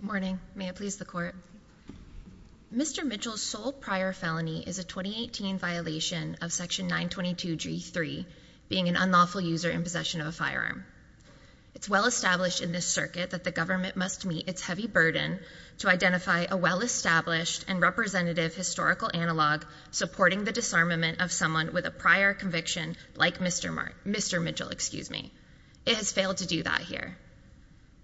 morning may it please the court mr. Mitchell's sole prior felony is a 2018 violation of section 922 g3 being an unlawful user in possession of a firearm it's well established in this circuit that the government must meet its heavy burden to identify a well-established and representative historical analog supporting the disarmament of someone with a prior conviction like mr. mark mr. Mitchell excuse me it has failed to do that here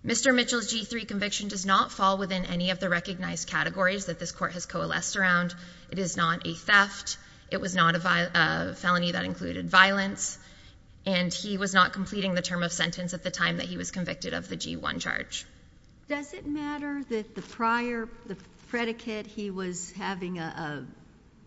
mr. Mitchell g3 conviction does not fall within any of the recognized categories that this court has coalesced around it is not a theft it was not a felony that included violence and he was not completing the term of sentence at the time that he was convicted of the g1 charge does it matter that the prior the predicate he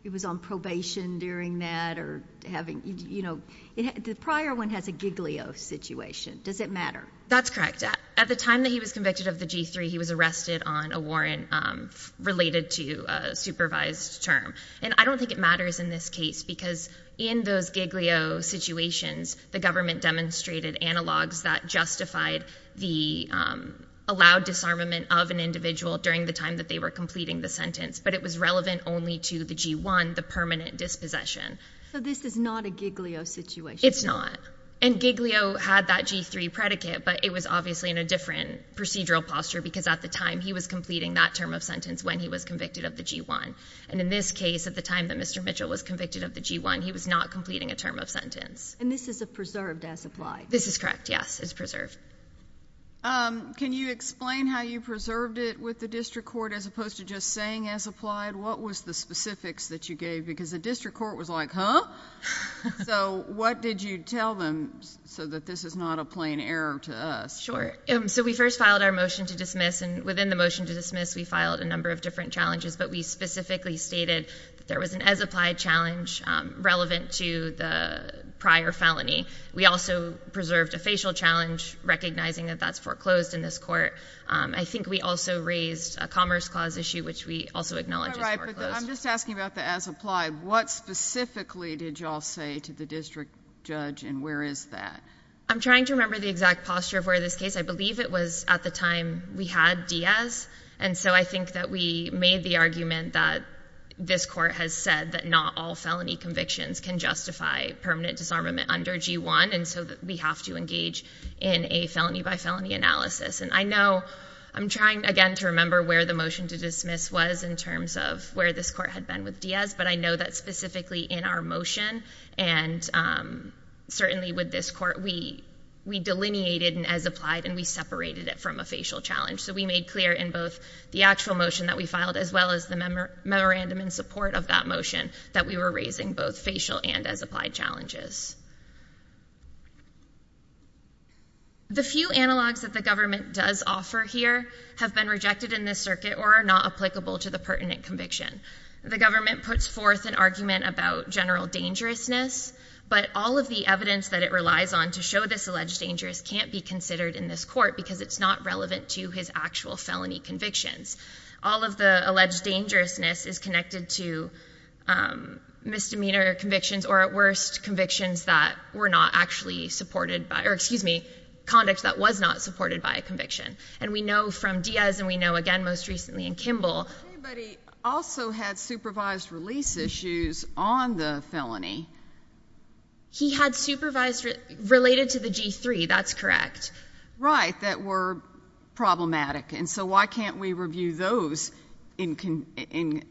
it was on probation during that or having you know the prior one has a giglio situation does it matter that's correct at at the time that he was convicted of the g3 he was arrested on a warrant related to supervised term and I don't think it matters in this case because in those giglio situations the government demonstrated analogs that justified the allowed disarmament of an individual during the time that they were completing the sentence but it was relevant only to the g1 the permanent dispossession so this is not a giglio situation it's not and giglio had that g3 predicate but it was obviously in a different procedural posture because at the time he was completing that term of sentence when he was convicted of the g1 and in this case at the time that mr. Mitchell was convicted of the g1 he was not completing a term of sentence and this is a preserved as applied this is correct yes it's preserved can you explain how you preserved it with the district court as opposed to just saying as applied what was the specifics that you gave because the district court was like huh so what did you tell them so that this is not a plain error to us sure so we first filed our motion to dismiss and within the motion to dismiss we filed a number of different challenges but we specifically stated there was an as applied challenge relevant to the prior felony we also preserved a facial challenge recognizing that that's foreclosed in this court I think we also raised a commerce clause issue which we also acknowledge I'm just asking about the as applied what specifically did y'all say to the district judge and where is that I'm trying to remember the exact posture of where this case I believe it was at the time we had Diaz and so I think that we made the argument that this court has said that not all felony convictions can justify permanent disarmament under g1 and so that we have to engage in a felony by felony analysis and I know I'm trying again to remember where the motion to dismiss was in terms of where this court had been with Diaz but I know that specifically in our motion and certainly with this court we we delineated and as applied and we separated it from a facial challenge so we made clear in both the actual motion that we filed as well as the member memorandum in support of that motion that we were raising both facial and as challenges the few analogs that the government does offer here have been rejected in this circuit or are not applicable to the pertinent conviction the government puts forth an argument about general dangerousness but all of the evidence that it relies on to show this alleged dangerous can't be considered in this court because it's not relevant to his actual felony convictions all of the alleged dangerousness is connected to misdemeanor convictions or at worst convictions that were not actually supported by or excuse me conduct that was not supported by a conviction and we know from Diaz and we know again most recently in Kimball also had supervised release issues on the felony he had supervised related to the g3 that's correct right that were problematic and so why can't we review those in can in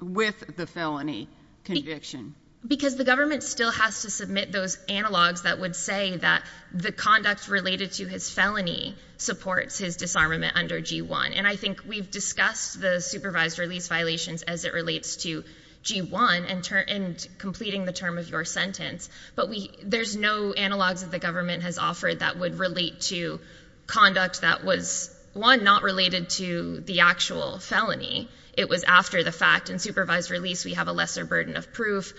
with the felony conviction because the government still has to submit those analogs that would say that the conduct related to his felony supports his disarmament under g1 and I think we've discussed the supervised release violations as it relates to g1 and turn and completing the term of your sentence but we there's no analogs that the government has offered that would relate to conduct that was one not related to the actual felony it was after the fact and release we have a lesser burden of proof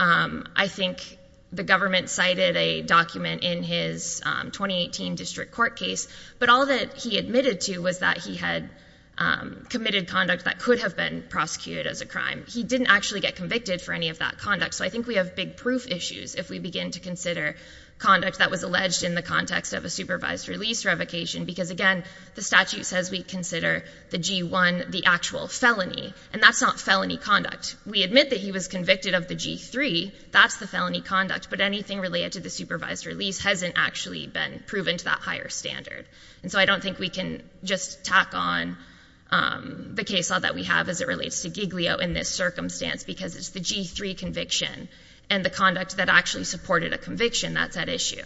I think the government cited a document in his 2018 district court case but all that he admitted to was that he had committed conduct that could have been prosecuted as a crime he didn't actually get convicted for any of that conduct so I think we have big proof issues if we begin to consider conduct that was alleged in the context of a supervised release revocation because again the statute says we consider the one the actual felony and that's not felony conduct we admit that he was convicted of the g3 that's the felony conduct but anything related to the supervised release hasn't actually been proven to that higher standard and so I don't think we can just tack on the case all that we have as it relates to Giglio in this circumstance because it's the g3 conviction and the conduct that actually supported a conviction that's at issue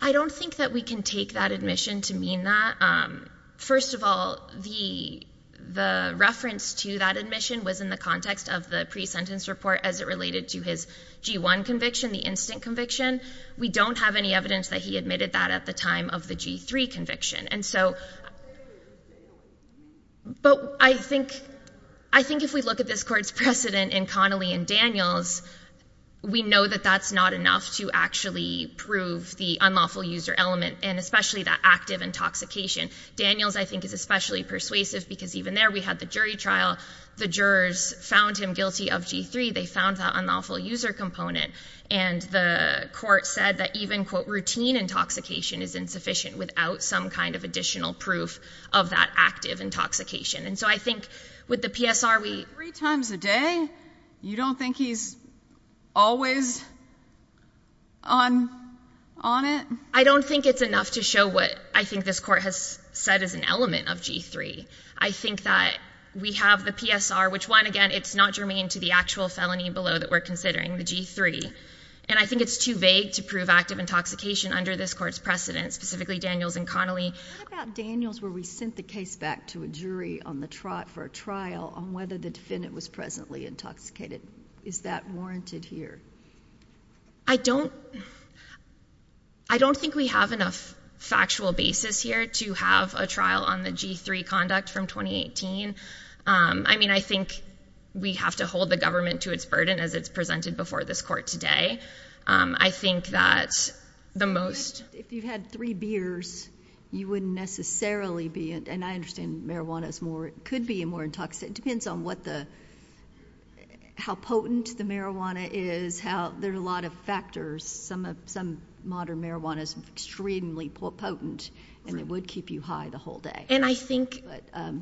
I don't think that we can take that admission to mean that first of all the the reference to that admission was in the context of the pre-sentence report as it related to his g1 conviction the instant conviction we don't have any evidence that he admitted that at the time of the g3 conviction and so but I think I think if we look at this court's precedent in Connolly and Daniels we know that that's not enough to actually prove the unlawful user element and especially that active intoxication Daniels I think is especially persuasive because even there we had the jury trial the jurors found him guilty of g3 they found that unlawful user component and the court said that even quote routine intoxication is insufficient without some kind of additional proof of that active intoxication and so I think with the PSR we three times a day you don't think he's always on on it I don't think it's enough to show what I think this court has said as an element of g3 I think that we have the PSR which one again it's not germane to the actual felony below that we're considering the g3 and I think it's too vague to prove active intoxication under this court's precedent specifically Daniels and Connolly Daniels where we sent the case back to a jury on the trot for a trial on whether the defendant was presently intoxicated is that warranted here I don't I don't think we have enough factual basis here to have a trial on the g3 conduct from 2018 I mean I think we have to hold the government to its burden as it's presented before this court today I think that the most if you've had three beers you wouldn't necessarily be and I understand marijuana is more it could be a more intoxicated depends on what the how potent the marijuana is how there are a lot of factors some of some modern marijuana is extremely potent and it would keep you high the whole day and I think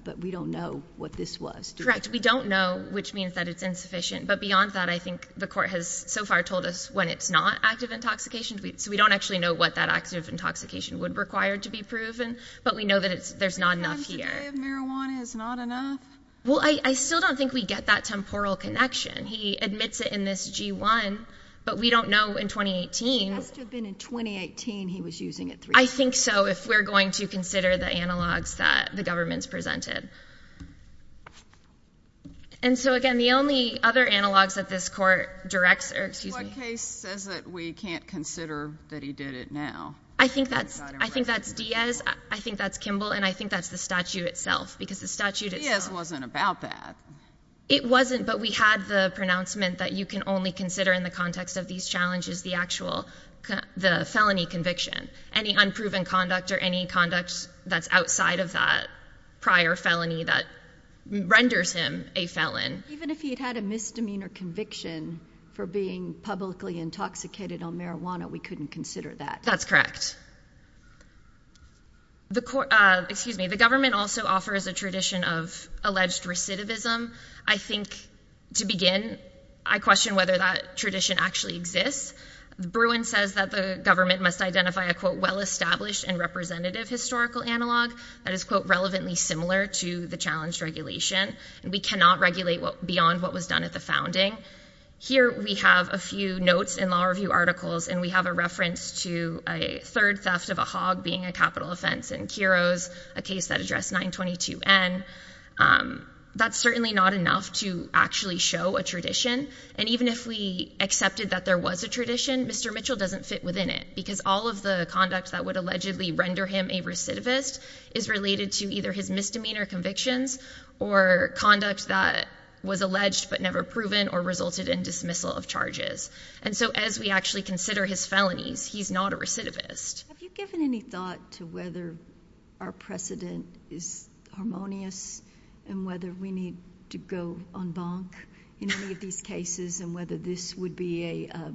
but we don't know what this was correct we don't know which means that it's insufficient but beyond that I think the court has so far told us when it's not active intoxication so we don't actually know what that active intoxication would require to be proven but we know that it's there's not enough here well I still don't think we get that temporal connection he admits it in this g1 but we don't know in 2018 he was using it I think so if we're going to consider the analogs that the presented and so again the only other analogs that this court directs excuse me says that we can't consider that he did it now I think that's I think that's Diaz I think that's Kimball and I think that's the statute itself because the statute is wasn't about that it wasn't but we had the pronouncement that you can only consider in the context of these challenges the actual the felony conviction any unproven conduct or any conduct that's outside of that prior felony that renders him a felon even if he had a misdemeanor conviction for being publicly intoxicated on marijuana we couldn't consider that that's correct the court excuse me the government also offers a tradition of alleged recidivism I think to begin I question whether that tradition actually exists the Bruin says that the government must identify a quote well-established and representative historical analog that is quote relevantly similar to the challenge regulation we cannot regulate what beyond what was done at the founding here we have a few notes in law review articles and we have a reference to a third theft of a hog being a capital offense and heroes a case that address 922 n that's certainly not enough to actually show a tradition and even if we accepted that there was a tradition mr. Mitchell doesn't fit within it because all of the conduct that would allegedly render him a recidivist is related to either his misdemeanor convictions or conduct that was alleged but never proven or resulted in dismissal of charges and so as we actually consider his felonies he's not a recidivist given any thought to whether our precedent is harmonious and whether we need to go on bonk in any of these cases and whether this would be a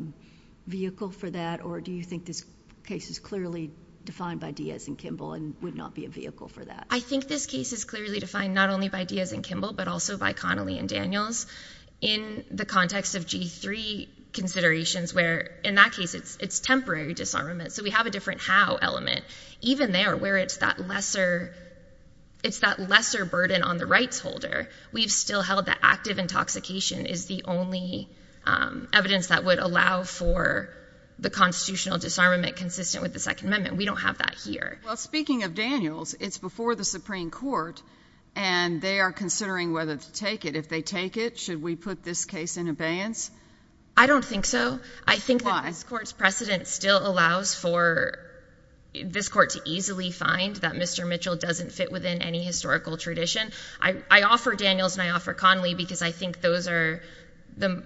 vehicle for that or do you think this case is clearly defined by Diaz and Kimball and would not be a vehicle for that I think this case is clearly defined not only by Diaz and Kimball but also by Connelly and Daniels in the context of g3 considerations where in that case it's it's temporary disarmament so we have a different how element even there where it's that lesser it's that lesser burden on the rights holder we've still held that active intoxication is the only evidence that would allow for the constitutional disarmament consistent with the Second Amendment we don't have that here well speaking of Daniels it's before the Supreme Court and they are considering whether to take it if they take it should we put this case in abeyance I don't think so I think this court's precedent still allows for this court to easily find that mr. Mitchell doesn't fit within any historical tradition I offer Daniels and I offer Connelly because I think those are them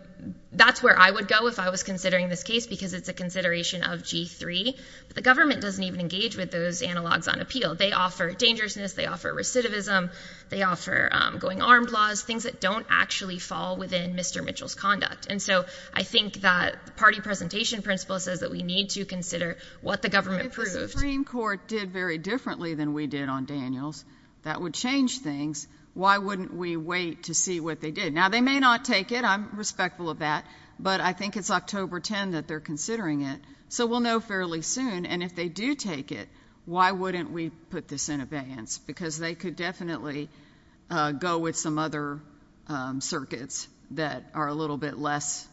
that's where I would go if I was considering this case because it's a consideration of g3 but the government doesn't even engage with those analogs on appeal they offer dangerousness they offer recidivism they offer going armed laws things that don't actually fall within mr. Mitchell's conduct and so I think that party presentation principle says that we need to consider what the Supreme Court did very differently than we did on Daniels that would change things why wouldn't we wait to see what they did now they may not take it I'm respectful of that but I think it's October 10 that they're considering it so we'll know fairly soon and if they do take it why wouldn't we put this in abeyance because they could definitely go with some other circuits that are a little bit less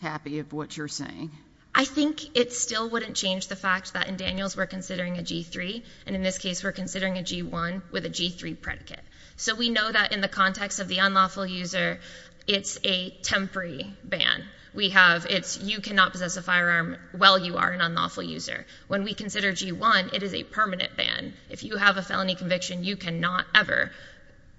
happy of what you're saying I think it still wouldn't change the fact that in Daniels we're considering a g3 and in this case we're considering a g1 with a g3 predicate so we know that in the context of the unlawful user it's a temporary ban we have it's you cannot possess a firearm well you are an unlawful user when we consider g1 it is a permanent ban if you have a felony conviction you cannot ever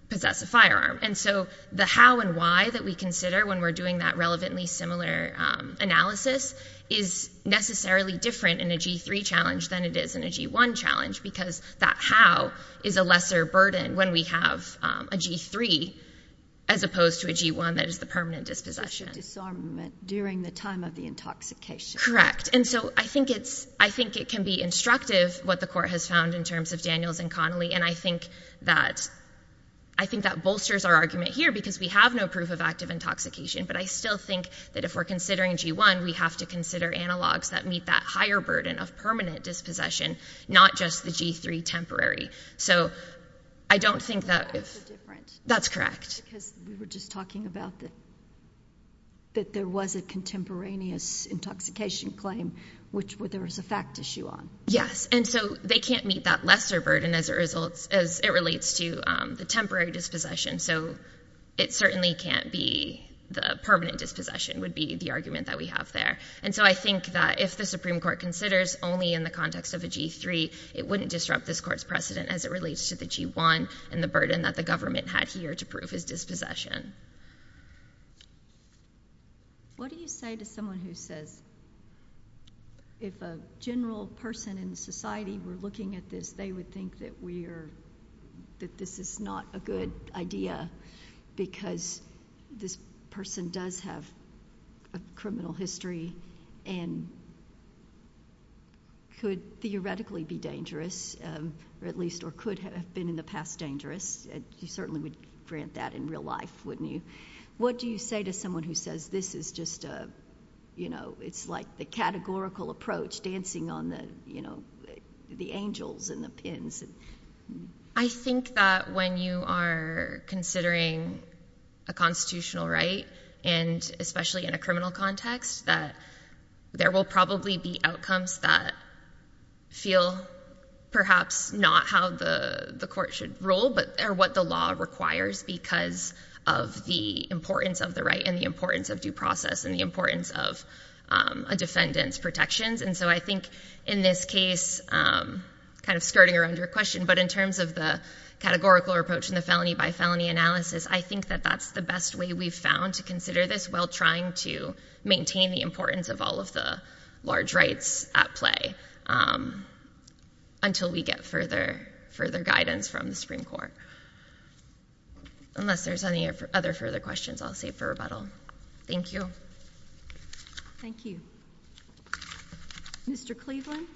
possess a firearm and so the how and why that we consider when we're doing that relevantly similar analysis is necessarily different in a g3 challenge than it is in a g1 challenge because that how is a lesser burden when we have a g3 as opposed to a g1 that is the permanent dispossession disarmament during the time of the intoxication correct and so I think it's I think it can be instructive what the court has found in terms of Daniels and Connolly and I think that I think that bolsters our argument here because we have no proof of active intoxication but I still think that if we're considering g1 we have to consider analogs that meet that higher burden of permanent dispossession not just the g3 temporary so I don't think that if that's correct because we were just talking about that that there was a contemporaneous intoxication claim which were there was a fact issue on yes and so they can't meet that lesser burden as it results as it relates to the temporary dispossession so it certainly can't be the permanent dispossession would be the argument that we have there and so I think that if the Supreme Court considers only in the context of a g3 it wouldn't disrupt this court's precedent as it relates to the g1 and the burden that the government had here to prove his dispossession. What do you say to someone who says if a general person in society were looking at this they would think that we're that this is not a good idea because this person does have a criminal history and could theoretically be dangerous at least or could have been in the past dangerous and you certainly would grant that in real life wouldn't you what do you say to someone who says this is just a you know it's like the categorical approach dancing on the you know the angels and the pins. I think that when you are considering a constitutional right and especially in a criminal context that there will probably be outcomes that feel perhaps not how the the court should rule but are what the law requires because of the importance of the right and the importance of due process and the importance of a defendant's protections and so I think in this case kind of skirting around your question but in terms of the categorical approach in the felony by felony analysis I think that that's the best way we've found to consider this while trying to maintain the importance of all of the large rights at play until we get further further guidance from the Supreme Court unless there's any other further questions I'll save for rebuttal thank you. Thank you. Mr. Cleveland.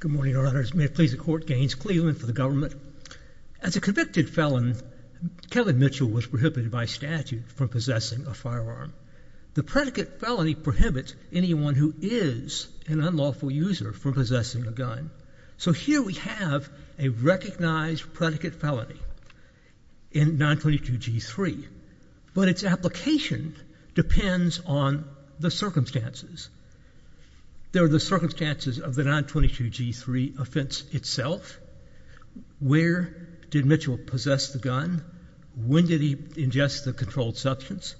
Good morning Your Honors. May it please the Court. Gaines Cleveland for the government. As a convicted felon Kevin Mitchell was prohibited by statute from possessing a firearm. The predicate felony prohibits anyone who is an unlawful user from possessing a gun. So here we have a recognized predicate felony in 922 g3 but its application depends on the circumstances. There are the circumstances of the 922 g3 offense itself. Where did Mitchell possess the gun? When did he ingest the controlled substance?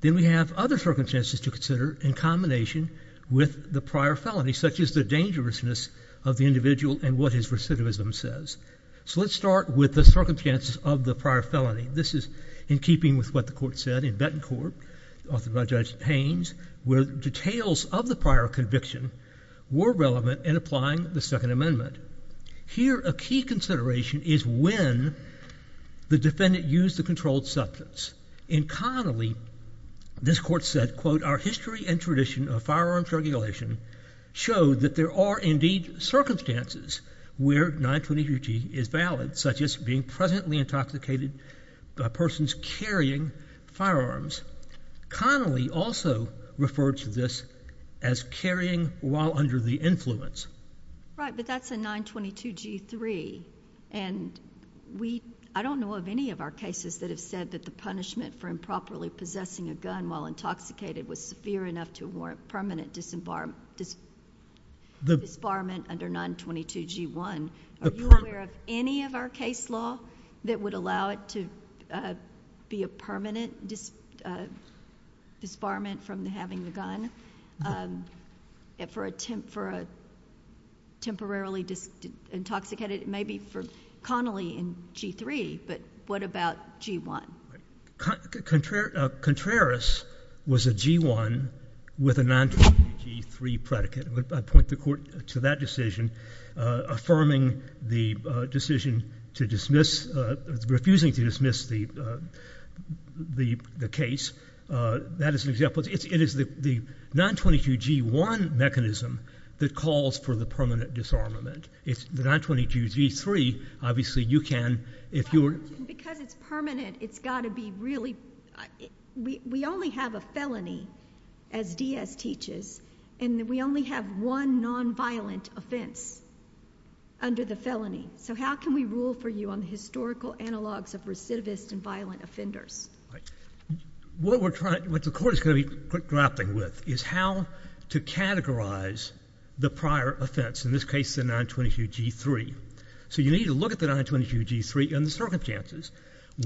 Then we have other circumstances to consider in combination with the prior felony such as the dangerousness of the individual and what his recidivism says. So let's start with the circumstances of the prior felony. This is in keeping with what the court said in Bettencourt authored by Judge Haines where details of the prior conviction were relevant in applying the Second Amendment. Here a key consideration is when the defendant used the controlled substance. In Connolly this court said quote our history and tradition of firearms regulation showed that there are indeed circumstances where 922 g is valid such as being presently intoxicated by persons carrying firearms. Connolly also referred to this as carrying while under the influence. Right but that's a 922 g3 and we I don't know of any of our cases that have said that the punishment for improperly possessing a gun while intoxicated was severe enough to warrant permanent disembarment under 922 g1. Are you aware of any of our case law that would allow it to be a permanent disbarment from having the gun for a temporarily intoxicated? Maybe for Connolly in g3 but what about g1? Contreras was a g1 with a 922 g3 predicate. I point the court to that decision affirming the decision to dismiss, refusing to dismiss the case. That is an example. It is the 922 g1 mechanism that calls for the permanent disarmament. It's the 922 g3 obviously you can if you were. Because it's permanent it's got to be really we only have a felony as Diaz teaches and we only have one nonviolent offense under the felony. So how can we rule for you on the historical analogs of recidivist and violent offenders? What we're trying what the court is going to be quick drafting with is how to categorize the prior offense in this case the 922 g3. So you need to look at the 922 g3 and the circumstances.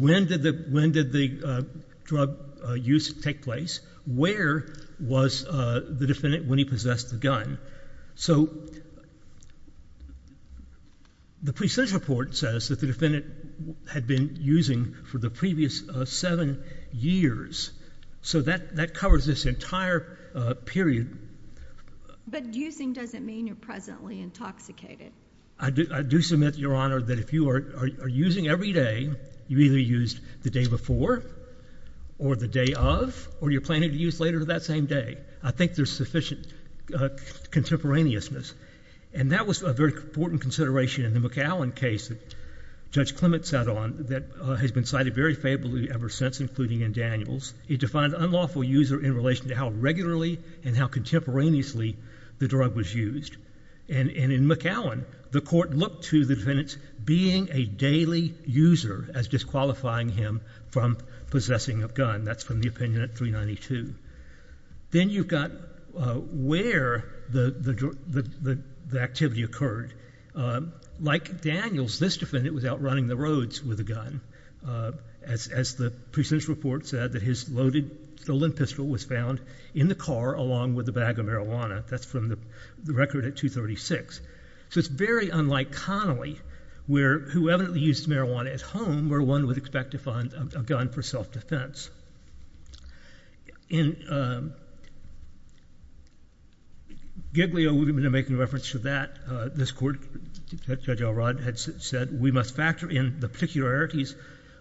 When did the when did the drug use take place? Where was the defendant when he possessed the gun? So the precinct report says that the defendant had been using for the previous seven years. So that that covers this entire period. But using doesn't mean you're presently intoxicated. I do submit your honor that if you are using every day you either used the day before or the day of or you're planning to use later to that same day. I think there's sufficient contemporaneousness and that was a very important consideration in the McAllen case that Judge Clement sat on that has been cited very favorably ever since including in Daniels. He defined unlawful user in relation to how regularly and how contemporaneously the drug was used. And in McAllen the court looked to the defendants being a daily user as disqualifying him from possessing a gun. That's from the opinion at 392. Then you've got where the activity occurred. Like Daniels this defendant was out running the roads with a gun as the precinct report said that his loaded stolen pistol was found in the car along with a bag of marijuana. That's from the record at 236. So it's very unlike Connolly who evidently used marijuana at home where one would expect to find a gun for self-defense. In Giglio we've been making reference to that. This court Judge Elrod had said we must factor in the particularities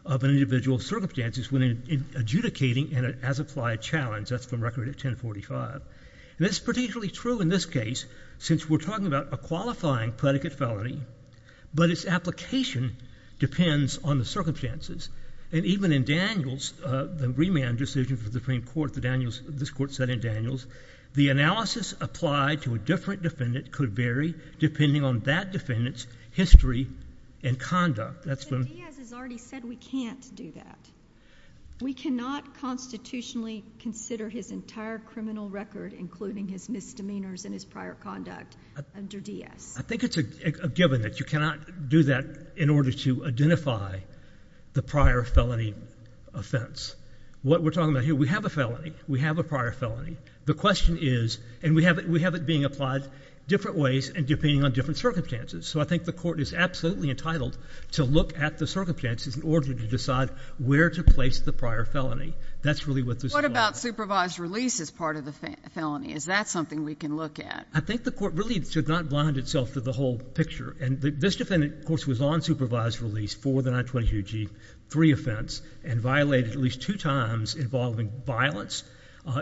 of an individual circumstances when adjudicating an as-applied challenge. That's from record at 1045. This is particularly true in this case since we're talking about a qualifying predicate felony but its application depends on the circumstances. And even in Daniels the remand decision for the Supreme Court, this court said in Daniels, the analysis applied to a different defendant could vary depending on that defendant's history and conduct. Diaz has already said we can't do that. We cannot constitutionally consider his entire criminal record including his misdemeanors and his prior conduct under Diaz. I think it's a given that you cannot do that in order to identify the prior felony offense. What we're talking about here we have a felony. We have a prior felony. The question is and we have it we have it being applied different ways and depending on different circumstances. So I think the court is absolutely entitled to look at the circumstances in order to decide where to place the prior felony. That's really what this is. What about supervised release as part of the felony? Is that something we can look at? I think the court really should not blind itself to the whole picture and this defendant of course was on supervised release for the 922g3 offense and violated at least two times involving violence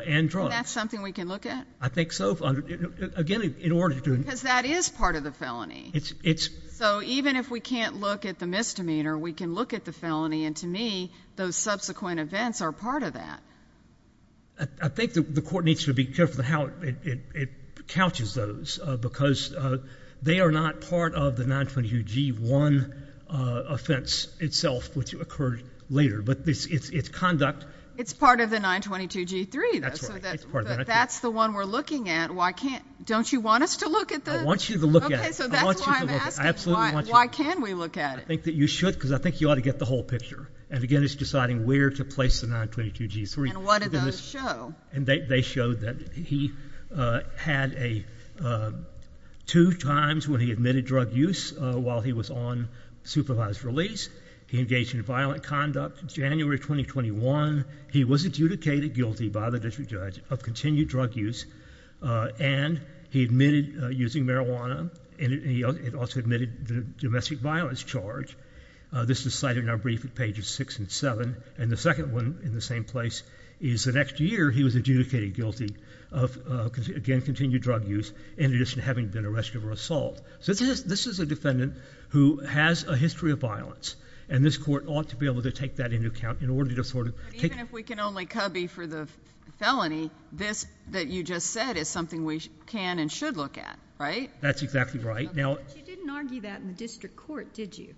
and drugs. That's something we can look at? I think so. Again in if we can't look at the misdemeanor we can look at the felony and to me those subsequent events are part of that. I think the court needs to be careful how it couches those because they are not part of the 922g1 offense itself which occurred later but this it's conduct. It's part of the 922g3. That's the one we're looking at. Why can't don't you want us to look at that? I want you to look at it. Why can't we look at it? I think that you should because I think you ought to get the whole picture and again it's deciding where to place the 922g3. And what do those show? And they showed that he had a two times when he admitted drug use while he was on supervised release. He engaged in violent conduct in January 2021. He was adjudicated guilty by the district judge of continued drug use and he admitted using marijuana and he also admitted the domestic violence charge. This is cited in our brief at pages six and seven and the second one in the same place is the next year he was adjudicated guilty of again continued drug use in addition to having been arrested for assault. So this is a defendant who has a history of violence and this court ought to be able to take that into account in order to sort of... Even if we can only cubby for the felony this that you just said is something we can and should look at, right? That's exactly right. You didn't argue that in the district court, did you?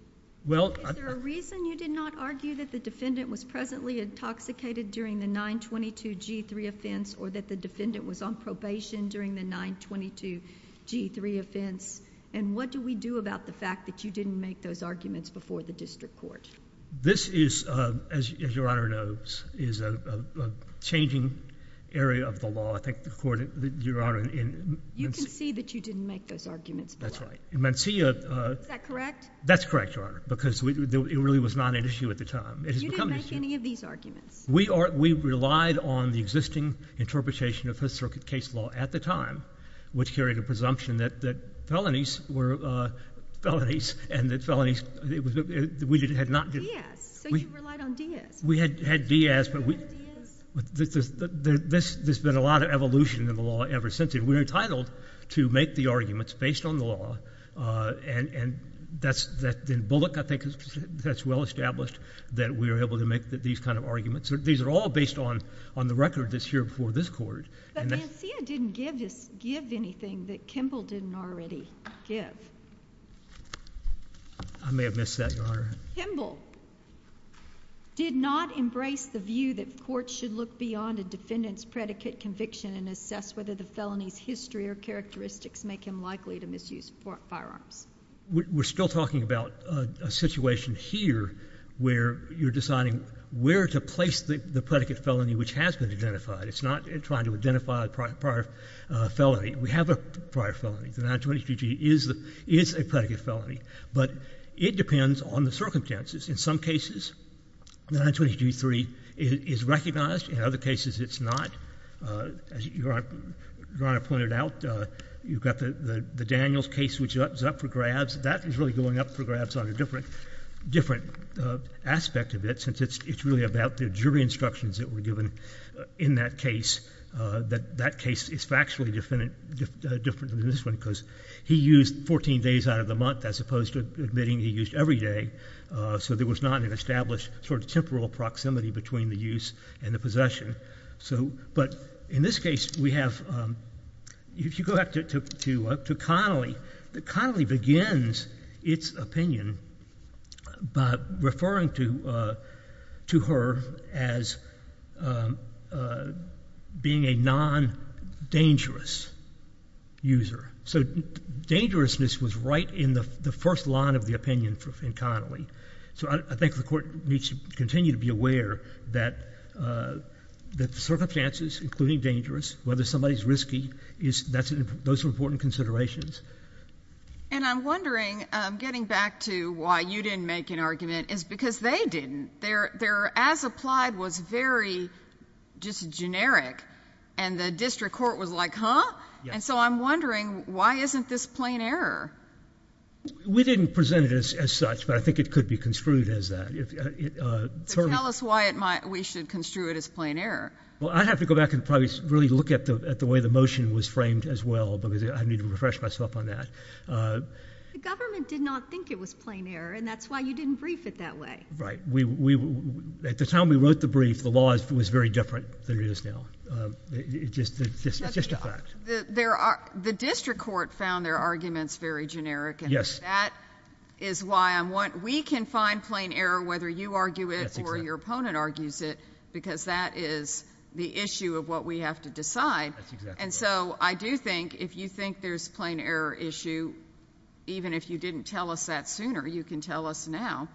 Is there a reason you did not argue that the defendant was presently intoxicated during the 922g3 offense or that the defendant was on probation during the 922g3 offense? And what do we do about the fact that you didn't make those arguments before the district court? This is, as your honor knows, is a changing area of the law. I think the court, your honor... You can see that you didn't make those arguments before. That's right. Mencia... Is that correct? That's correct, your honor, because it really was not an issue at the time. You didn't make any of these arguments? We relied on the existing interpretation of Fifth Circuit case law at the time which carried a presumption that felonies were felonies and that felonies... We had not... So you relied on Diaz? We had Diaz, but we... There's been a lot of evolution in the law ever since. We were entitled to make the arguments based on the law and that's, in Bullock, I think that's well established that we were able to make these kind of arguments. These are all based on on the record that's here before this court. But Mencia didn't give anything that Kimball didn't already give. I may have missed that, your honor. Kimball did not embrace the view that courts should look beyond a defendant's predicate conviction and assess whether the felony's history or characteristics make him likely to misuse firearms. We're still talking about a situation here where you're deciding where to place the predicate felony which has been identified. It's not trying to identify a prior felony. We have a prior felony. The 9223 is a predicate felony, but it depends on the circumstances. In some cases, 9223 is recognized. In other cases, it's not. As your honor pointed out, you've got the Daniels case which is up for grabs. That is really going up for grabs on a different aspect of it since it's really about the jury instructions that were given in that case. That case is factually different than this one because he used 14 days out of the month as opposed to admitting he used every day. So there was not an established sort of temporal proximity between the use and the possession. In this case, if you go back to Connolly, Connolly begins its opinion by referring to her as being a non-dangerous user. So dangerousness was right in the first line of the opinion in Connolly. So I think the court needs to continue to be aware that the circumstances, including dangerous, whether somebody's risky, those are important considerations. And I'm wondering, getting back to why you didn't make an argument, is because they didn't. Their as-applied was very just generic and the district court was like, huh? And so I'm wondering why isn't this plain error? We didn't present it as such, but I think it could be construed as that. Tell us why we should construe it as plain error. Well, I have to go back and probably really look at the way the motion was framed as well because I need to refresh myself on that. The government did not think it was plain error and that's why you didn't brief it that way. Right. At the time we wrote the brief, the law was very different than it is now. It's just a fact. The district court found their arguments very generic and that is why I'm wondering. We can find plain error whether you argue it or your opponent argues it because that is the issue of what we have to decide. And so I do think if you think there's plain error issue, even if you didn't tell us that sooner, you can tell us now.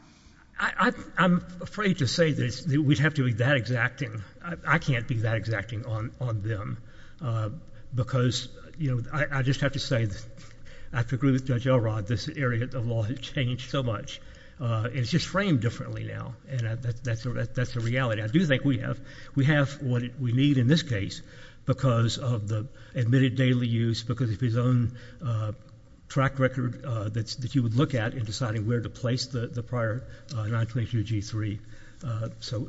I'm afraid to say this. We'd have to be that exacting. I can't be that exacting on on them because, you know, I just have to say that I have to agree with Judge Elrod. This area of law has changed so much. Uh, it's just framed differently now. And that's that's that's the reality. I do think we have we have what we need in this case because of the admitted daily use because of his own track record that's that you would look at in deciding where to place the prior 922G3. So...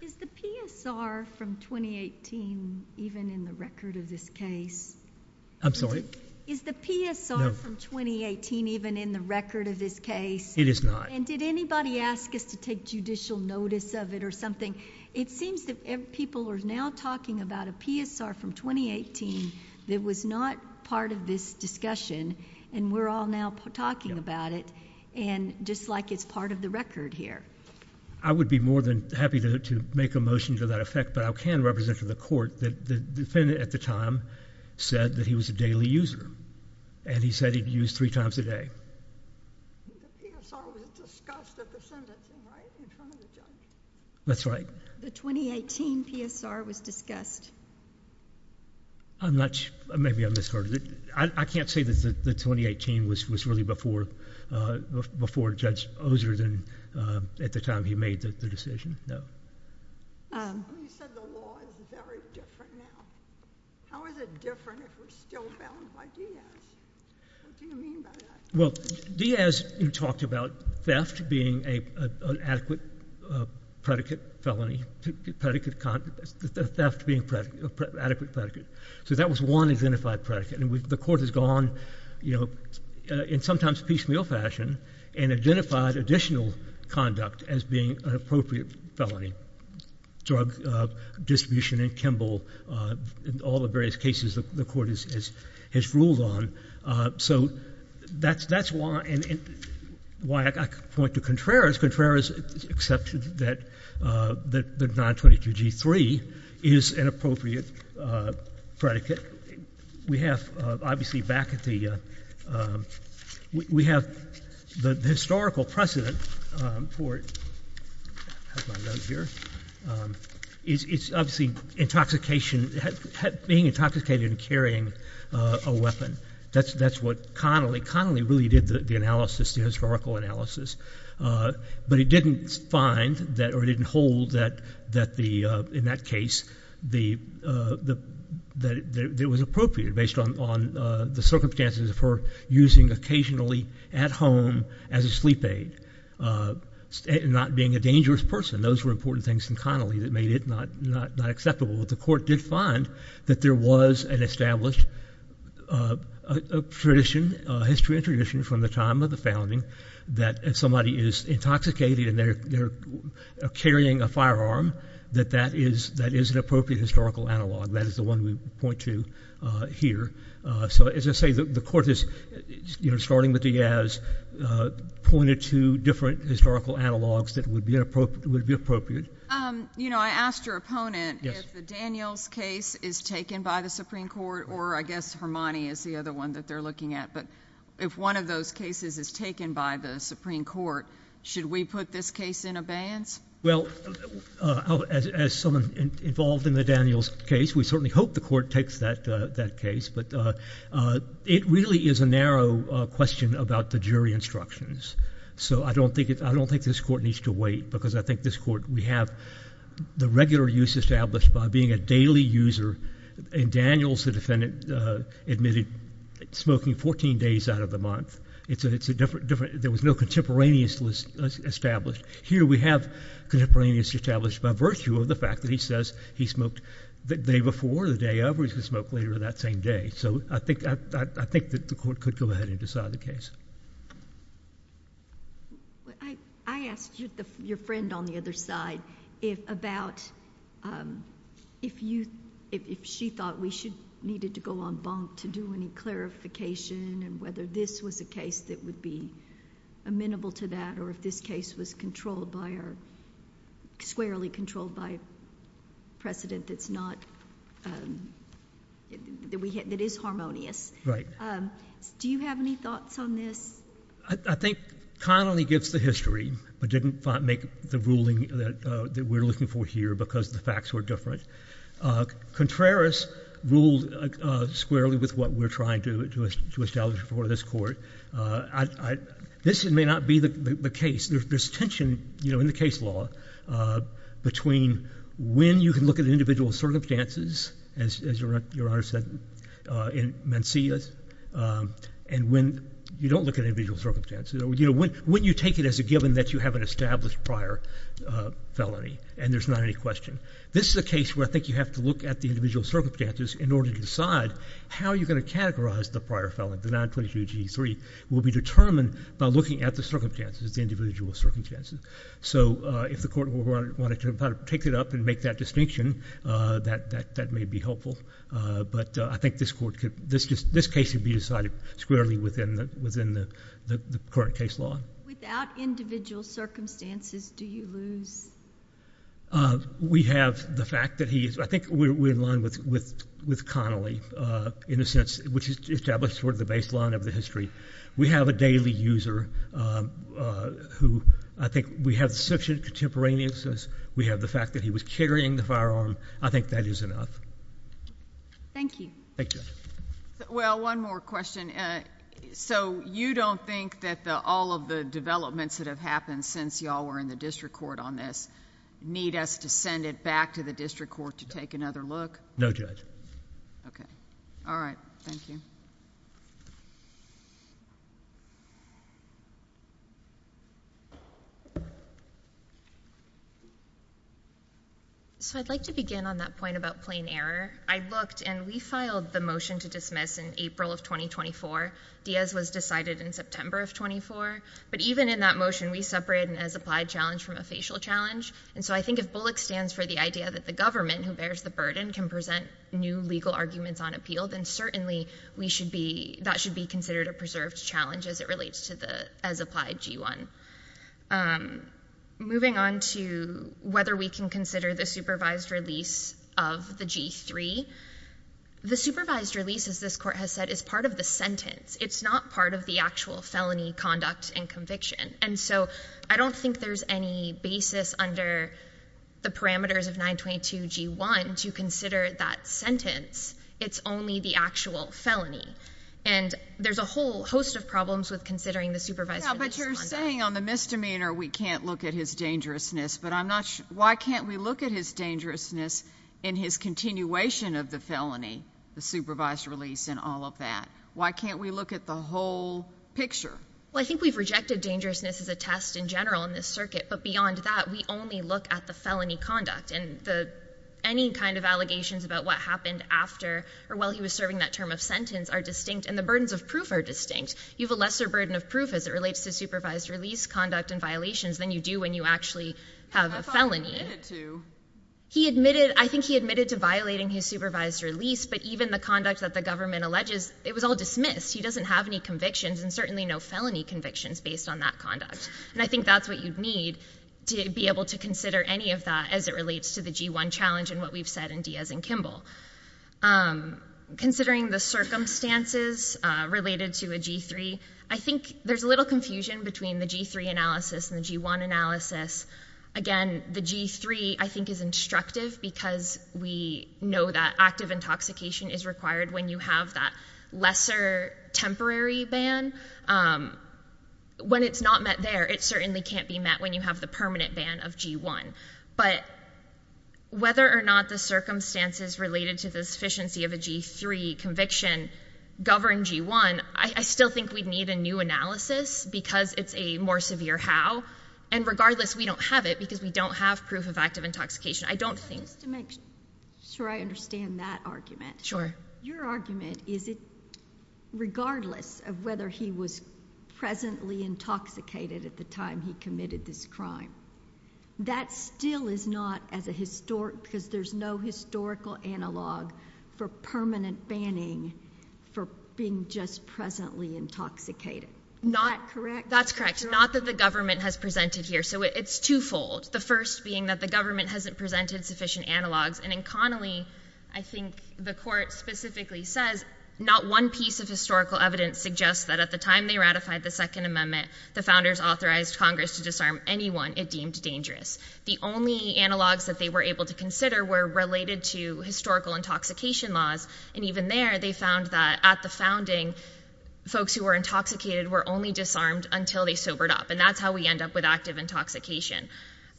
Is the PSR from 2018 even in the record of this case? I'm sorry? Is the PSR from 2018 even in the record of this case? It is not. And did anybody ask us to take judicial notice of it or something? It seems that people are now talking about a PSR from 2018 that was not part of this discussion. And we're all now talking about it. And just like it's part of the record here. I would be more than happy to make a motion to that effect. But I can represent to the Court that the defendant at the time said that he was a daily user. And he said he'd use three times a day. The PSR was discussed at the Senate, right, in front of the judge? That's right. The 2018 PSR was discussed. I'm not sure. Maybe I misheard it. I can't say that the 2018 was really before Judge Oser at the time he made the decision. No. You said the law is very different now. How is it different if we're still bound by Diaz? What do you mean by that? Well, Diaz talked about theft being an adequate predicate felony. Theft being an adequate predicate. So that was one identified predicate. And the Court has gone in sometimes piecemeal fashion and identified additional conduct as being an appropriate felony. Drug distribution and Kimball and all the various cases the Court has ruled on. So that's why I point to Contreras. Contreras accepted that the 922G3 is an appropriate predicate. We have, obviously, back at the... We have the historical precedent for... I have my notes here. It's obviously intoxication, being intoxicated and carrying a weapon. That's what Connolly... Connolly really did the analysis, the historical analysis. But it didn't find or it didn't hold that, in that case, that it was appropriate based on the circumstances of her using occasionally at home as a sleep aid and not being a dangerous person. Those were important things in Connolly that made it not acceptable. But the Court did find that there was an established tradition, history and tradition from the time of the founding, that if somebody is intoxicated and they're carrying a firearm, that that is an appropriate historical analog. That is the one we point to here. So, as I say, the Court is, starting with Diaz, pointed to different historical analogs that would be appropriate. You know, I asked your opponent if the Daniels case is taken by the Supreme Court or, I guess, Hermione is the other one that they're looking at. But if one of those cases is taken by the Supreme Court, should we put this case in abeyance? Well, as someone involved in the Daniels case, we certainly hope the Court takes that case. But it really is a narrow question about the jury instructions. So I don't think this Court needs to wait, because I think this Court, we have the regular use established by being a daily user. In Daniels, the defendant admitted smoking 14 days out of the month. There was no contemporaneous established. Here we have contemporaneous established by virtue of the fact that he says he smoked the day before, the day of, or he could smoke later that same day. So I think that the Court could go ahead and decide the case. I asked your friend on the other side about if you... if she thought we should... needed to go on bonk to do any clarification and whether this was a case that would be amenable to that or if this case was controlled by our... squarely controlled by precedent that's not... that is harmonious. Do you have any thoughts on this? I think Connolly gives the history, but didn't make the ruling that we're looking for here because the facts were different. Contreras ruled squarely with what we're trying to establish before this Court. This may not be the case. There's tension in the case law between when you can look at individual circumstances, as your Honor said, in Mencius, and when you don't look at individual circumstances. When you take it as a given that you have an established prior felony, and there's not any question. This is a case where I think you have to look at the individual circumstances in order to decide how you're going to categorize the prior felony, the 922G3, will be determined by looking at the circumstances, the individual circumstances. So if the Court wanted to take it up and make that distinction, that may be helpful. But I think this Court could... this case could be decided squarely within the current case law. Without individual circumstances, do you lose? We have the fact that he is... I think we're in line with Connolly, in a sense, which is to establish sort of the baseline of the history. We have a daily user who I think we have sufficient contemporaneousness. We have the fact that he was carrying the firearm. I think that is enough. Thank you. Thank you. Well, one more question. So you don't think that all of the developments that have happened since you all were in the district court on this need us to send it back to the district court to take another look? No, Judge. Okay. All right. Thank you. So I'd like to begin on that point about plain error. I looked, and we filed the motion to dismiss in April of 2024. Diaz was decided in September of 2024. But even in that motion, we separated an as-applied challenge from a facial challenge. And so I think if Bullock stands for the idea that the government, who bears the burden, can present new legal arguments on appeal, then certainly we should be... that should be considered a preserved challenge as it relates to the as-applied G1. Moving on to whether we can consider the supervised release of the G3. The supervised release, as this court has said, is part of the sentence. It's not part of the actual felony conduct and conviction. And so I don't think there's any basis under the parameters of 922 G1 to consider that sentence. It's only the actual felony. And there's a whole host of problems with considering the supervised release. But you're saying on the misdemeanor we can't look at his dangerousness, but I'm not... Why can't we look at his dangerousness in his continuation of the felony, the supervised release and all of that? Why can't we look at the whole picture? Well, I think we've rejected dangerousness as a test in general in this circuit. But beyond that, we only look at the felony conduct. And any kind of allegations about what happened after or while he was serving that term of sentence are distinct. And the burdens of proof are distinct. You have a lesser burden of proof as it relates to supervised release conduct and violations than you do when you actually have a felony. I thought he admitted to... He admitted... I think he admitted to violating his supervised release. But even the conduct that the government alleges, it was all dismissed. He doesn't have any convictions and certainly no felony convictions based on that conduct. And I think that's what you'd need to be able to consider any of that as it relates to the G1 challenge and what we've said in Diaz and Kimball. Considering the circumstances related to a G3, I think there's a little confusion between the G3 analysis and the G1 analysis. Again, the G3, I think, is instructive because we know that active intoxication is required when you have that lesser temporary ban. When it's not met there, it certainly can't be met when you have the permanent ban of G1. But whether or not the circumstances related to the sufficiency of a G3 conviction govern G1, I still think we'd need a new analysis because it's a more severe how. And regardless, we don't have it because we don't have proof of active intoxication. I don't think... Just to make sure I understand that argument. Sure. Your argument is that regardless of whether he was presently intoxicated at the time he committed this crime, that still is not as a historic... because there's no historical analog for permanent banning for being just presently intoxicated. Is that correct? That's correct. Not that the government has presented here. So it's twofold. The first being that the government hasn't presented sufficient analogs. And in Connolly, I think the court specifically says, not one piece of historical evidence suggests that at the time they ratified the Second Amendment, the founders authorized Congress to disarm anyone it deemed dangerous. The only analogs that they were able to consider were related to historical intoxication laws. And even there, they found that at the founding, folks who were intoxicated were only disarmed until they sobered up. And that's how we end up with active intoxication.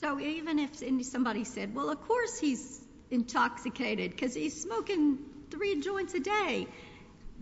So even if somebody said, well, of course he's intoxicated because he's smoking three joints a day,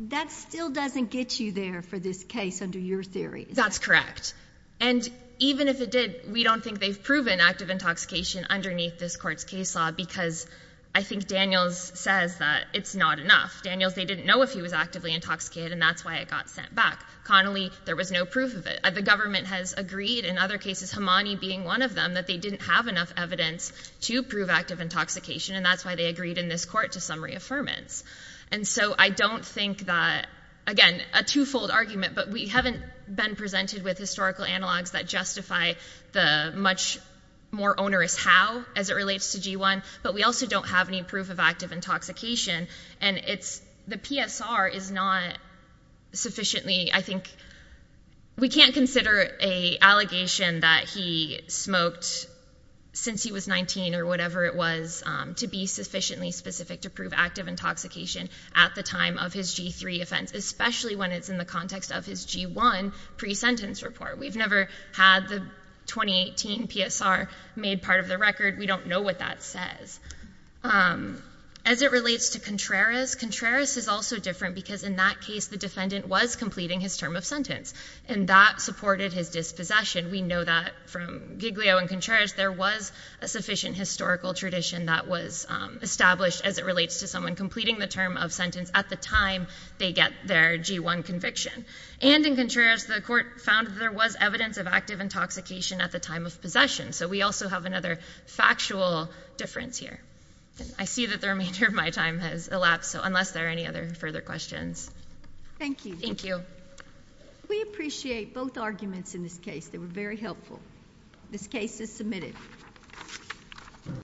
that still doesn't get you there for this case under your theory. That's correct. And even if it did, we don't think they've proven active intoxication underneath this court's case law because I think Daniels says that it's not enough. Daniels, they didn't know if he was actively intoxicated, and that's why it got sent back. Connolly, there was no proof of it. The government has agreed, in other cases, Hamani being one of them, that they didn't have enough evidence to prove active intoxication, and that's why they agreed in this court to some reaffirmance. And so I don't think that, again, a twofold argument, but we haven't been presented with historical analogs that justify the much more onerous how as it relates to G1, but we also don't have any proof of active intoxication. The PSR is not sufficiently, I think, we can't consider an allegation that he smoked since he was 19 or whatever it was to be sufficiently specific to prove active intoxication at the time of his G3 offense, especially when it's in the context of his G1 pre-sentence report. We've never had the 2018 PSR made part of the record. We don't know what that says. As it relates to Contreras, Contreras is also different because in that case the defendant was completing his term of sentence, and that supported his dispossession. We know that from Giglio and Contreras, there was a sufficient historical tradition that was established as it relates to someone completing the term of sentence at the time they get their G1 conviction. And in Contreras, the court found that there was evidence of active intoxication at the time of possession, so we also have another factual difference here. I see that the remainder of my time has elapsed, so unless there are any other further questions. Thank you. Thank you. We appreciate both arguments in this case. They were very helpful. This case is submitted.